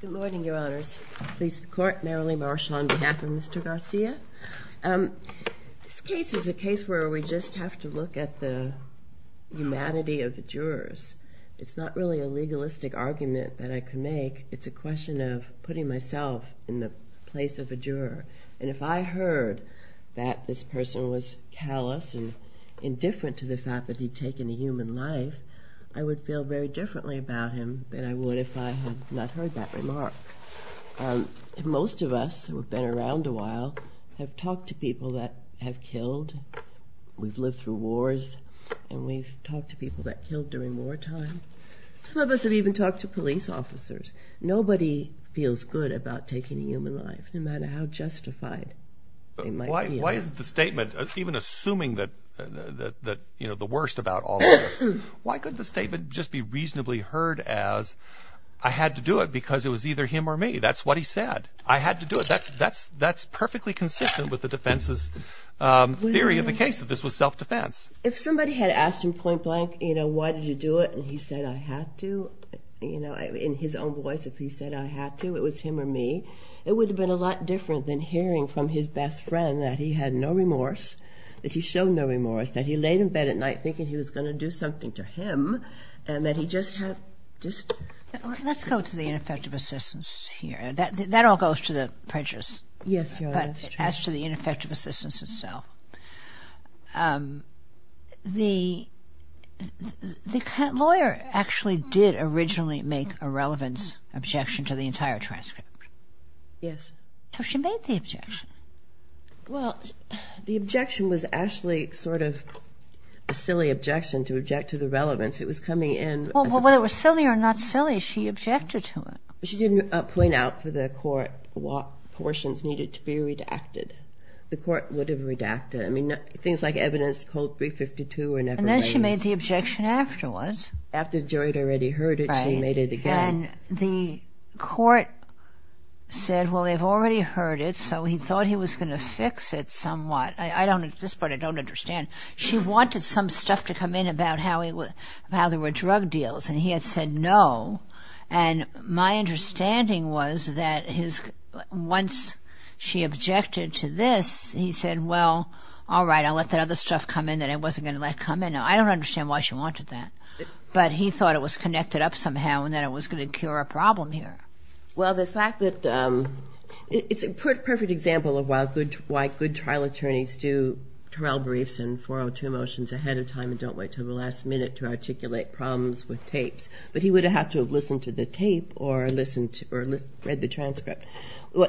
Good morning, Your Honors. Please, the Court, merrily marshal on behalf of Mr. Garcia. This case is a case where we just have to look at the humanity of the jurors. It's not really a legalistic argument that I could make. It's a question of putting myself in the place of a juror. And if I heard that this person was callous and indifferent to the fact that he'd taken a human life, I would feel very differently about him than I would if I had not heard that remark. Most of us who have been around a while have talked to people that have killed. We've lived through wars, and we've talked to people that killed during wartime. Some of us have even talked to police officers. Nobody feels good about taking a human life, no matter how justified they might be. Why is the statement, even assuming the worst about all of this, why couldn't the statement just be reasonably heard as, I had to do it because it was either him or me? That's what he said. I had to do it. That's perfectly consistent with the defense's theory of the case, that this was self-defense. If somebody had asked him point blank, you know, why did you do it, and he said, I had to, you know, in his own voice, if he said, I had to, it was him or me, it would have been a lot different than hearing from his best friend that he had no remorse, that he showed no remorse, that he laid in bed at night thinking he was going to do something to him, and that he just had, just... Let's go to the ineffective assistance here. That all goes to the prejudice. Yes, Your Honor, that's true. But as to the ineffective assistance itself, the lawyer actually did originally make a relevance objection to the entire transcript. Yes. So she made the objection. Well, the objection was actually sort of a silly objection to object to the relevance. It was coming in... Well, whether it was silly or not silly, she objected to it. She didn't point out for the court what portions needed to be redacted. The court would have redacted it. I mean, things like evidence code 352 were never raised. And then she made the objection afterwards. After the jury had already heard it, she made it again. And the court said, well, they've already heard it, so he thought he was going to fix it somewhat. This part I don't understand. She wanted some stuff to come in about how there were drug deals, and he had said no. And my understanding was that once she objected to this, he said, well, all right, I'll let that other stuff come in that I wasn't going to let come in. I don't understand why she wanted that. But he thought it was connected up somehow and that it was going to cure a problem here. Well, the fact that it's a perfect example of why good trial attorneys do trial briefs and 402 motions ahead of time and don't wait until the last minute to articulate problems with tapes. But he would have had to have listened to the tape or read the transcript.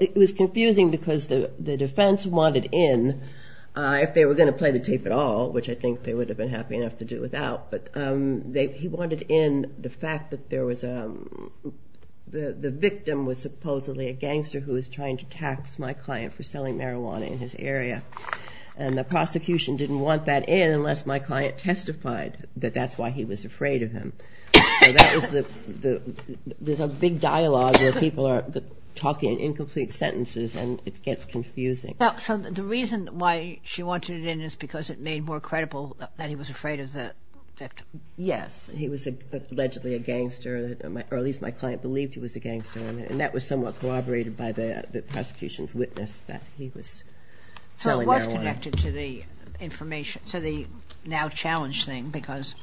It was confusing because the defense wanted in, if they were going to play the tape at all, which I think they would have been happy enough to do without, but he wanted in the fact that the victim was supposedly a gangster who was trying to tax my client for selling marijuana in his area. And the prosecution didn't want that in unless my client testified that that's why he was afraid of him. There's a big dialogue where people are talking in incomplete sentences and it gets confusing. So the reason why she wanted it in is because it made more credible that he was afraid of the victim? Yes. He was allegedly a gangster, or at least my client believed he was a gangster. And that was somewhat corroborated by the prosecution's witness that he was selling marijuana. So it was connected to the now challenged thing because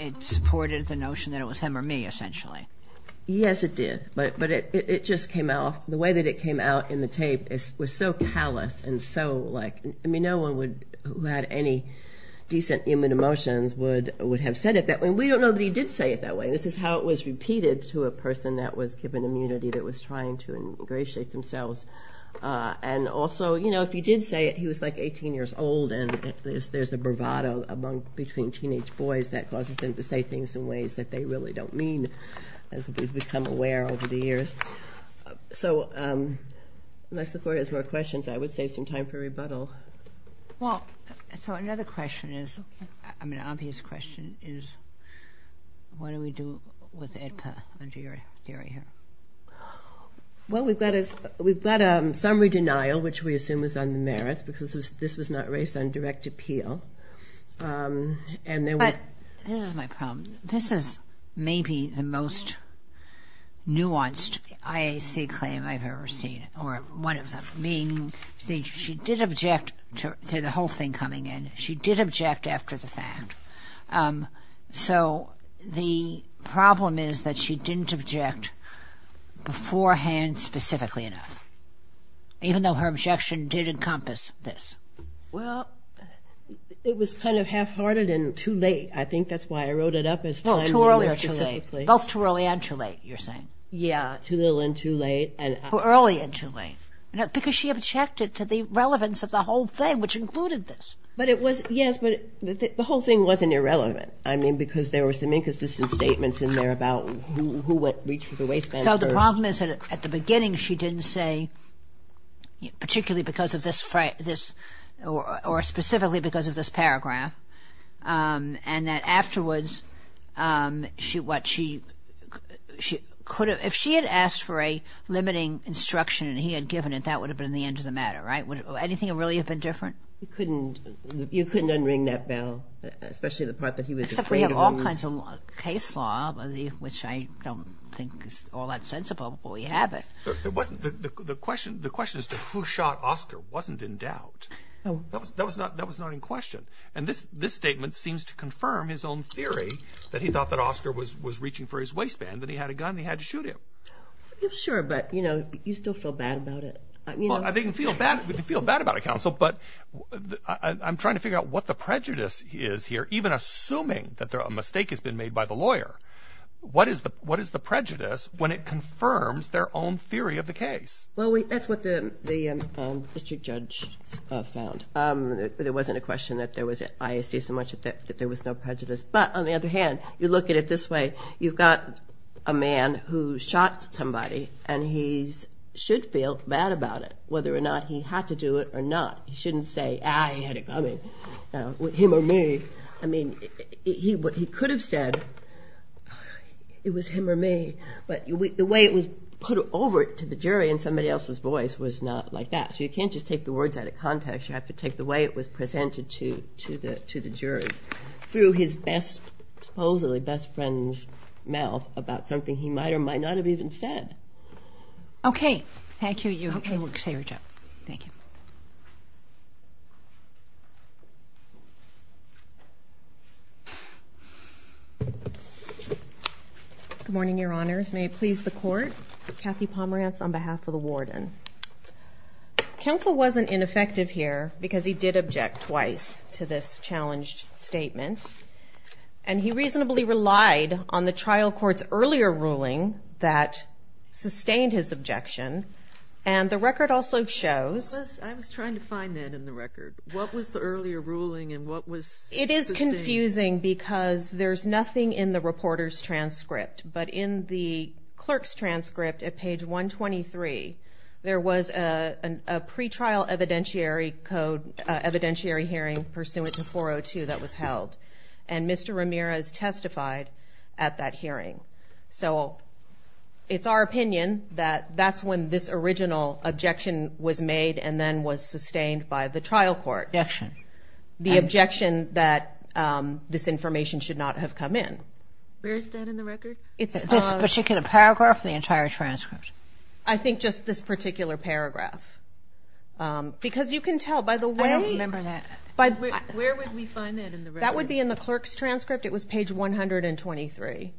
it supported the notion that it was him or me, essentially. Yes, it did. But it just came out. The way that it came out in the tape was so callous and so like... I mean, no one who had any decent human emotions would have said it that way. And we don't know that he did say it that way. This is how it was repeated to a person that was given immunity that was trying to ingratiate themselves. And also, you know, if he did say it, he was like 18 years old and there's a bravado between teenage boys that causes them to say things in ways that they really don't mean as we've become aware over the years. So unless the court has more questions, I would save some time for rebuttal. Well, so another question is... I mean, an obvious question is what do we do with EDPA under your area? Well, we've got a summary denial, which we assume is on the merits because this was not raised on direct appeal. But this is my problem. This is maybe the most nuanced IAC claim I've ever seen or one of them, meaning she did object to the whole thing coming in. She did object after the fact. So the problem is that she didn't object beforehand specifically enough even though her objection did encompass this. Well, it was kind of half-hearted and too late. I think that's why I wrote it up as time... Well, too early or too late. Both too early and too late, you're saying. Yeah, too little and too late. Early and too late. Because she objected to the relevance of the whole thing, which included this. But it was, yes, but the whole thing wasn't irrelevant. I mean, because there were some inconsistent statements in there about who reached for the waistband first. So the problem is that at the beginning she didn't say, particularly because of this or specifically because of this paragraph, and that afterwards she could have... If she had asked for a limiting instruction and he had given it, that would have been the end of the matter, right? Would anything really have been different? You couldn't unring that bell, especially the part that he was afraid of. Except we have all kinds of case law, which I don't think is all that sensible before we have it. The question is that who shot Oscar wasn't in doubt. That was not in question. And this statement seems to confirm his own theory that he thought that Oscar was reaching for his waistband, that he had a gun and he had to shoot him. Sure, but, you know, you still feel bad about it. Well, I didn't feel bad about it, Counsel, but I'm trying to figure out what the prejudice is here, even assuming that a mistake has been made by the lawyer. What is the prejudice when it confirms their own theory of the case? Well, that's what the district judge found. There wasn't a question that there was ISD so much that there was no prejudice. But on the other hand, you look at it this way. You've got a man who shot somebody, and he should feel bad about it, whether or not he had to do it or not. He shouldn't say, ah, he had it coming, him or me. I mean, what he could have said, it was him or me, but the way it was put over to the jury in somebody else's voice was not like that. So you can't just take the words out of context. You have to take the way it was presented to the jury through his best, supposedly best friend's mouth about something he might or might not have even said. Okay. Thank you. You can say your job. Thank you. Good morning, Your Honors. May it please the Court, Kathy Pomerantz on behalf of the warden. Counsel wasn't ineffective here because he did object twice to this challenged statement, and he reasonably relied on the trial court's earlier ruling that sustained his objection, and the record also shows. I was trying to find that in the record. What was the earlier ruling, and what was sustained? It is confusing because there's nothing in the reporter's transcript, but in the clerk's transcript at page 123, there was a pretrial evidentiary hearing pursuant to 402 that was held, and Mr. Ramirez testified at that hearing. So it's our opinion that that's when this original objection was made and then was sustained by the trial court. Objection. The objection that this information should not have come in. Where is that in the record? This particular paragraph or the entire transcript? I think just this particular paragraph because you can tell by the way. I don't remember that. Where would we find that in the record? That would be in the clerk's transcript. It was page 123,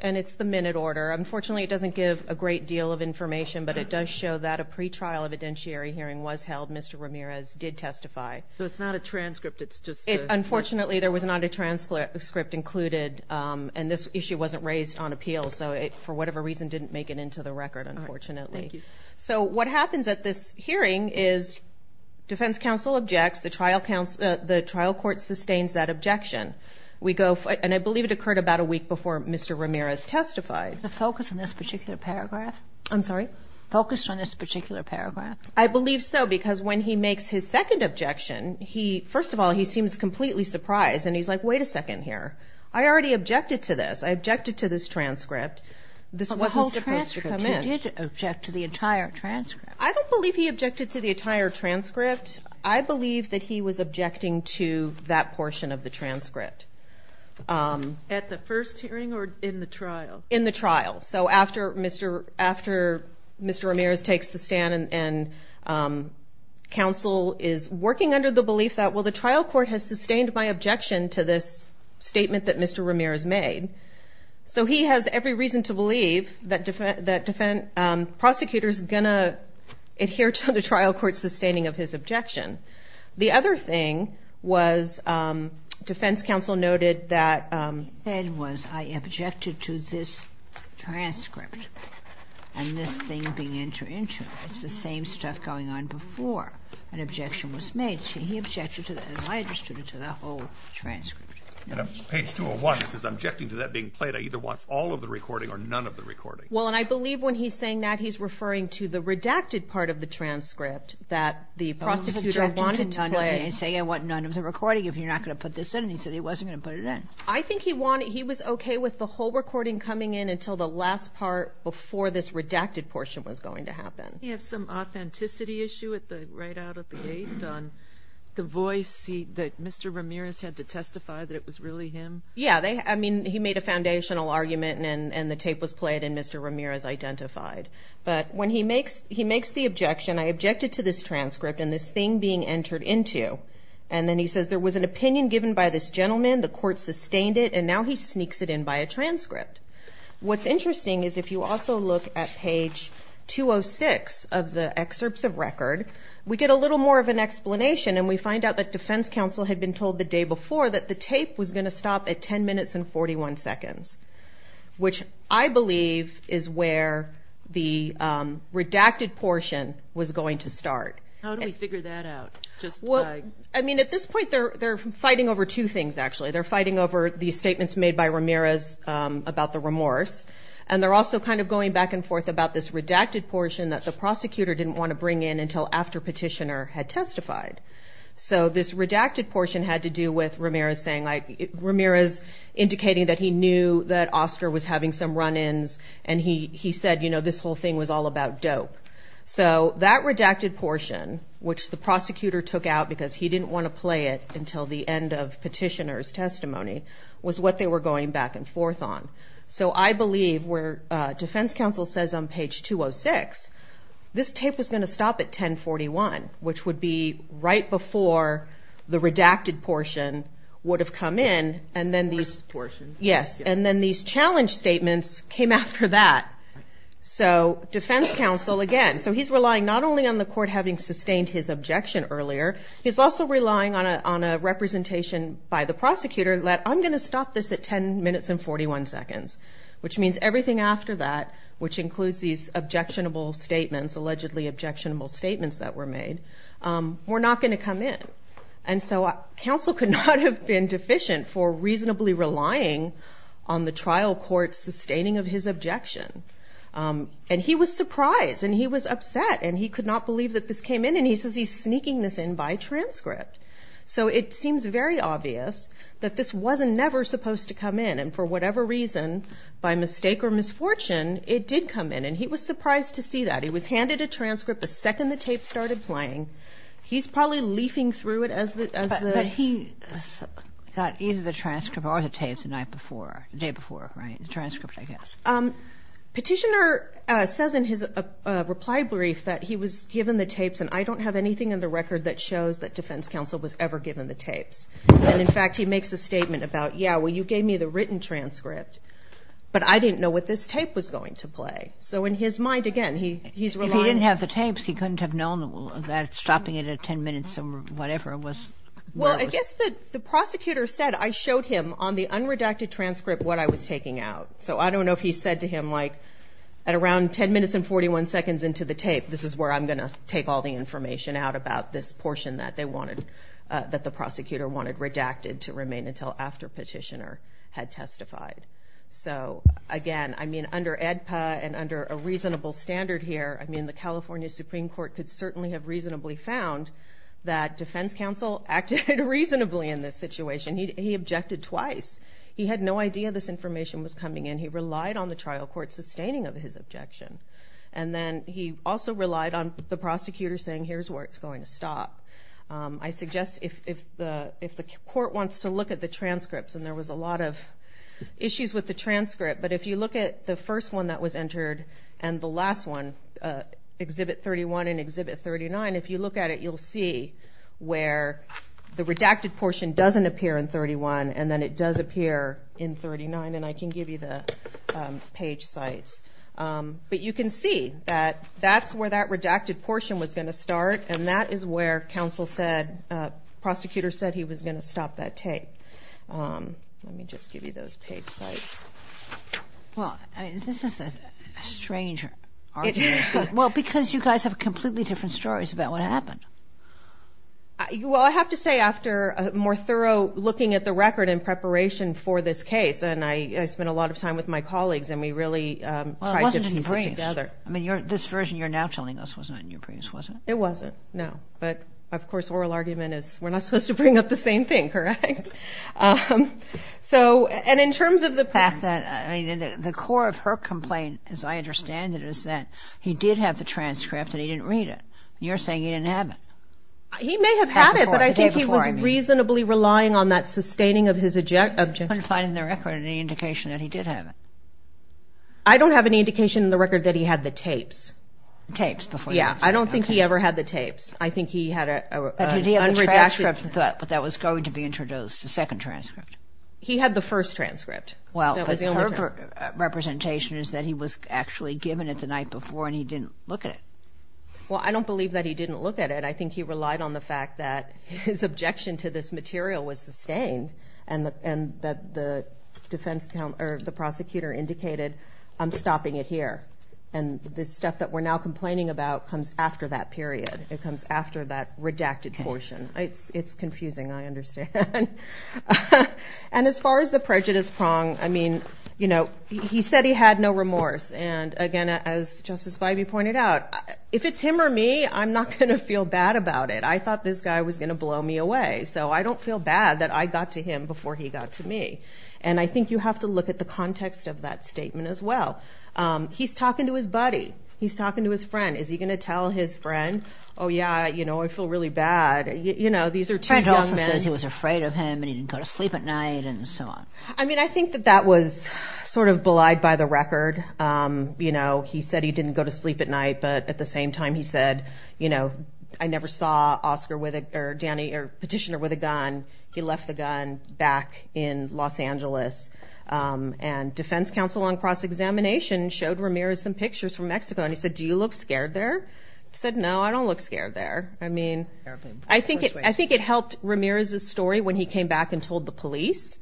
and it's the minute order. Unfortunately, it doesn't give a great deal of information, but it does show that a pretrial evidentiary hearing was held. Mr. Ramirez did testify. So it's not a transcript. Unfortunately, there was not a transcript included, and this issue wasn't raised on appeal. So it, for whatever reason, didn't make it into the record, unfortunately. Thank you. So what happens at this hearing is defense counsel objects. The trial court sustains that objection. And I believe it occurred about a week before Mr. Ramirez testified. The focus on this particular paragraph? I'm sorry? Focus on this particular paragraph. I believe so because when he makes his second objection, first of all, he seems completely surprised, and he's like, wait a second here. I already objected to this. I objected to this transcript. This wasn't supposed to come in. The whole transcript. He did object to the entire transcript. I don't believe he objected to the entire transcript. I believe that he was objecting to that portion of the transcript. At the first hearing or in the trial? In the trial. So after Mr. Ramirez takes the stand and counsel is working under the belief that, well, the trial court has sustained my objection to this statement that Mr. Ramirez made. So he has every reason to believe that prosecutors are going to adhere to the trial court's sustaining of his objection. The other thing was defense counsel noted that he said was, I objected to this transcript, and this thing began to enter. It's the same stuff going on before an objection was made. He objected to that, and I objected to that whole transcript. Page 201 says, I'm objecting to that being played. I either want all of the recording or none of the recording. Well, and I believe when he's saying that, he's referring to the redacted part of the transcript that the prosecutor wanted to play. He's saying I want none of the recording if you're not going to put this in, and he said he wasn't going to put it in. I think he was okay with the whole recording coming in until the last part before this redacted portion was going to happen. Didn't he have some authenticity issue right out of the gate on the voice that Mr. Ramirez had to testify that it was really him? Yeah. I mean, he made a foundational argument, and the tape was played, and Mr. Ramirez identified. But when he makes the objection, I objected to this transcript and this thing being entered into. And then he says there was an opinion given by this gentleman, the court sustained it, and now he sneaks it in by a transcript. What's interesting is if you also look at page 206 of the excerpts of record, we get a little more of an explanation, and we find out that defense counsel had been told the day before that the tape was going to stop at 10 minutes and 41 seconds, which I believe is where the redacted portion was going to start. How do we figure that out? I mean, at this point they're fighting over two things, actually. They're fighting over the statements made by Ramirez about the remorse, and they're also kind of going back and forth about this redacted portion that the prosecutor didn't want to bring in until after Petitioner had testified. So this redacted portion had to do with Ramirez saying, like, Ramirez indicating that he knew that Oscar was having some run-ins, and he said, you know, this whole thing was all about dope. So that redacted portion, which the prosecutor took out because he didn't want to play it until the end of Petitioner's testimony, was what they were going back and forth on. So I believe where defense counsel says on page 206, this tape was going to stop at 10.41, which would be right before the redacted portion would have come in, and then these challenge statements came after that. So defense counsel, again, so he's relying not only on the court having sustained his objection earlier, he's also relying on a representation by the prosecutor that, I'm going to stop this at 10.41, which means everything after that, which includes these objectionable statements, allegedly objectionable statements that were made, were not going to come in. And so counsel could not have been deficient for reasonably relying on the trial court sustaining of his objection. And he was surprised, and he was upset, and he could not believe that this came in, and he says he's sneaking this in by transcript. So it seems very obvious that this wasn't never supposed to come in, and for whatever reason, by mistake or misfortune, it did come in, and he was surprised to see that. It was handed a transcript the second the tape started playing. He's probably leafing through it as the— But he thought either the transcript or the tape the night before, the day before, right, the transcript, I guess. Petitioner says in his reply brief that he was given the tapes, and I don't have anything in the record that shows that defense counsel was ever given the tapes. And, in fact, he makes a statement about, yeah, well, you gave me the written transcript, but I didn't know what this tape was going to play. So in his mind, again, he's relying— If he didn't have the tapes, he couldn't have known that stopping it at 10 minutes or whatever was— Well, I guess the prosecutor said, I showed him on the unredacted transcript what I was taking out. So I don't know if he said to him, like, at around 10 minutes and 41 seconds into the tape, this is where I'm going to take all the information out about this portion that they wanted, that the prosecutor wanted redacted to remain until after Petitioner had testified. So, again, I mean, under AEDPA and under a reasonable standard here, I mean, the California Supreme Court could certainly have reasonably found that defense counsel acted reasonably in this situation. He objected twice. He had no idea this information was coming in. He relied on the trial court sustaining of his objection. And then he also relied on the prosecutor saying, here's where it's going to stop. I suggest if the court wants to look at the transcripts, and there was a lot of issues with the transcript, but if you look at the first one that was entered and the last one, Exhibit 31 and Exhibit 39, if you look at it, you'll see where the redacted portion doesn't appear in 31, and then it does appear in 39. And I can give you the page sites. But you can see that that's where that redacted portion was going to start, and that is where counsel said, prosecutor said he was going to stop that tape. Let me just give you those page sites. Well, this is a strange argument. Well, because you guys have completely different stories about what happened. Well, I have to say after more thorough looking at the record in preparation for this case, and I spent a lot of time with my colleagues, and we really tried to piece it together. This version you're now telling us was not in your briefs, was it? It wasn't, no. But, of course, oral argument is we're not supposed to bring up the same thing, correct? And in terms of the fact that the core of her complaint, as I understand it, is that he did have the transcript and he didn't read it. You're saying he didn't have it. He may have had it, but I think he was reasonably relying on that sustaining of his objection. I'm not finding the record any indication that he did have it. I don't have any indication in the record that he had the tapes. Tapes before that. Yeah, I don't think he ever had the tapes. I think he had a redacted. But did he have the transcript that was going to be introduced, the second transcript? He had the first transcript. But her representation is that he was actually given it the night before and he didn't look at it. Well, I don't believe that he didn't look at it. I think he relied on the fact that his objection to this material was sustained and that the prosecutor indicated, I'm stopping it here. And the stuff that we're now complaining about comes after that period. It comes after that redacted portion. It's confusing, I understand. And as far as the prejudice prong, I mean, you know, he said he had no remorse. And, again, as Justice Gliby pointed out, if it's him or me, I'm not going to feel bad about it. I thought this guy was going to blow me away. So I don't feel bad that I got to him before he got to me. And I think you have to look at the context of that statement as well. He's talking to his buddy. He's talking to his friend. Is he going to tell his friend, oh, yeah, you know, I feel really bad? You know, these are two young men. He also says he was afraid of him and he didn't go to sleep at night and so on. I mean, I think that that was sort of belied by the record. You know, he said he didn't go to sleep at night, but at the same time he said, you know, I never saw Petitioner with a gun. He left the gun back in Los Angeles. And defense counsel on cross-examination showed Ramirez some pictures from Mexico and he said, do you look scared there? He said, no, I don't look scared there. I mean, I think it helped Ramirez's story when he came back and told the police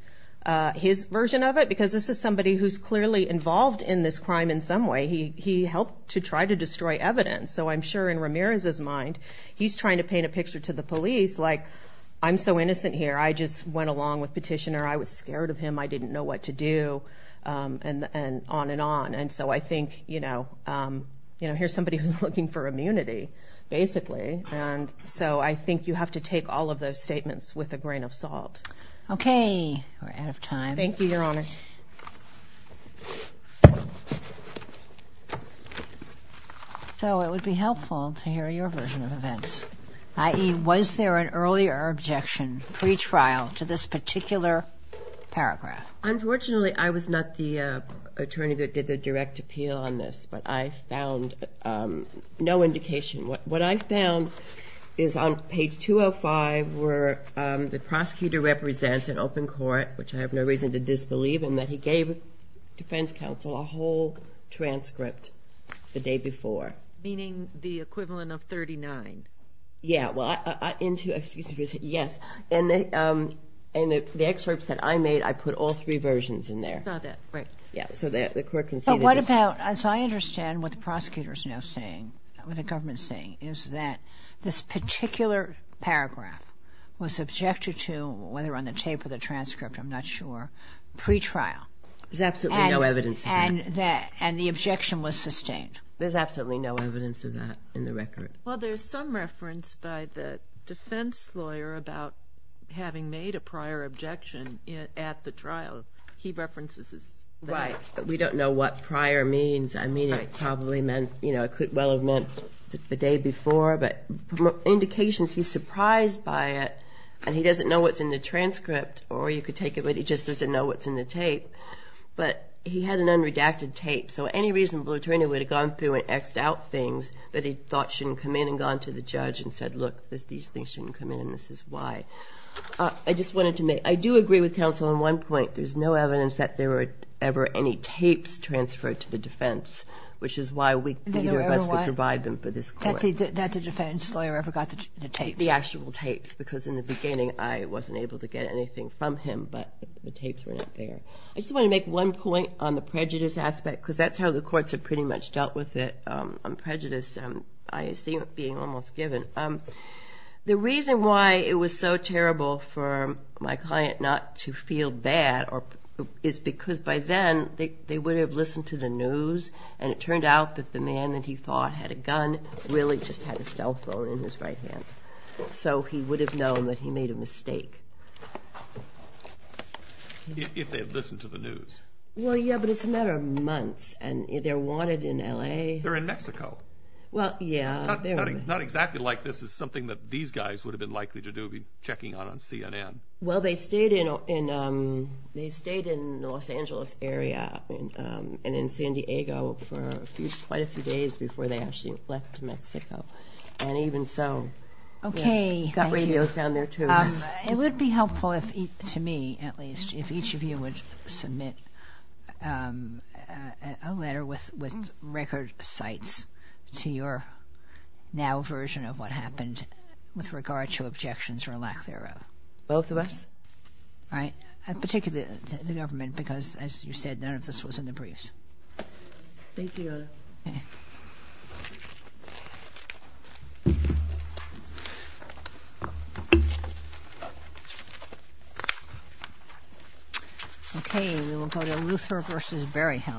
his version of it, because this is somebody who's clearly involved in this crime in some way. He helped to try to destroy evidence. So I'm sure in Ramirez's mind he's trying to paint a picture to the police, like I'm so innocent here. I just went along with Petitioner. I was scared of him. I didn't know what to do, and on and on. And so I think, you know, here's somebody who's looking for immunity, basically. And so I think you have to take all of those statements with a grain of salt. Okay. We're out of time. Thank you, Your Honors. So it would be helpful to hear your version of events, i.e., was there an earlier objection pre-trial to this particular paragraph? Unfortunately, I was not the attorney that did the direct appeal on this, but I found no indication. What I found is on page 205 where the prosecutor represents an open court, which I have no reason to disbelieve in, that he gave defense counsel a whole transcript the day before. Meaning the equivalent of 39. Yeah. Well, excuse me for saying yes. And the excerpts that I made, I put all three versions in there. I saw that. Right. Yeah, so the court can see that. But what about, as I understand what the prosecutor is now saying, what the government is saying, is that this particular paragraph was subjected to, whether on the tape or the transcript, I'm not sure, pre-trial. There's absolutely no evidence of that. And the objection was sustained. There's absolutely no evidence of that in the record. Well, there's some reference by the defense lawyer about having made a prior objection at the trial. He references this. Right. But we don't know what prior means. I mean, it probably meant, you know, it could well have meant the day before. But indications he's surprised by it, and he doesn't know what's in the transcript, or you could take it that he just doesn't know what's in the tape. But he had an unredacted tape, so any reasonable attorney would have gone through and X'd out things that he thought shouldn't come in and gone to the judge and said, look, these things shouldn't come in and this is why. I just wanted to make – I do agree with counsel on one point. There's no evidence that there were ever any tapes transferred to the defense, which is why neither of us would provide them for this court. That's a defense lawyer who ever got the tapes. The actual tapes, because in the beginning, I wasn't able to get anything from him, but the tapes were not there. I just want to make one point on the prejudice aspect, because that's how the courts have pretty much dealt with it on prejudice. I see it being almost given. The reason why it was so terrible for my client not to feel bad is because by then they would have listened to the news, and it turned out that the man that he thought had a gun really just had a cell phone in his right hand. So he would have known that he made a mistake. If they had listened to the news. Well, yeah, but it's a matter of months, and they're wanted in L.A. They're in Mexico. Well, yeah. Not exactly like this is something that these guys would have been likely to do, be checking out on CNN. Well, they stayed in the Los Angeles area and in San Diego for quite a few days before they actually left to Mexico, and even so. Okay, thank you. Got radios down there too. It would be helpful, to me at least, if each of you would submit a letter with record sites to your now version of what happened with regard to objections or lack thereof. Both of us? Right, particularly the government, because as you said, none of this was in the briefs. Thank you. Okay. Okay, we will go to Luther v. Berryhill.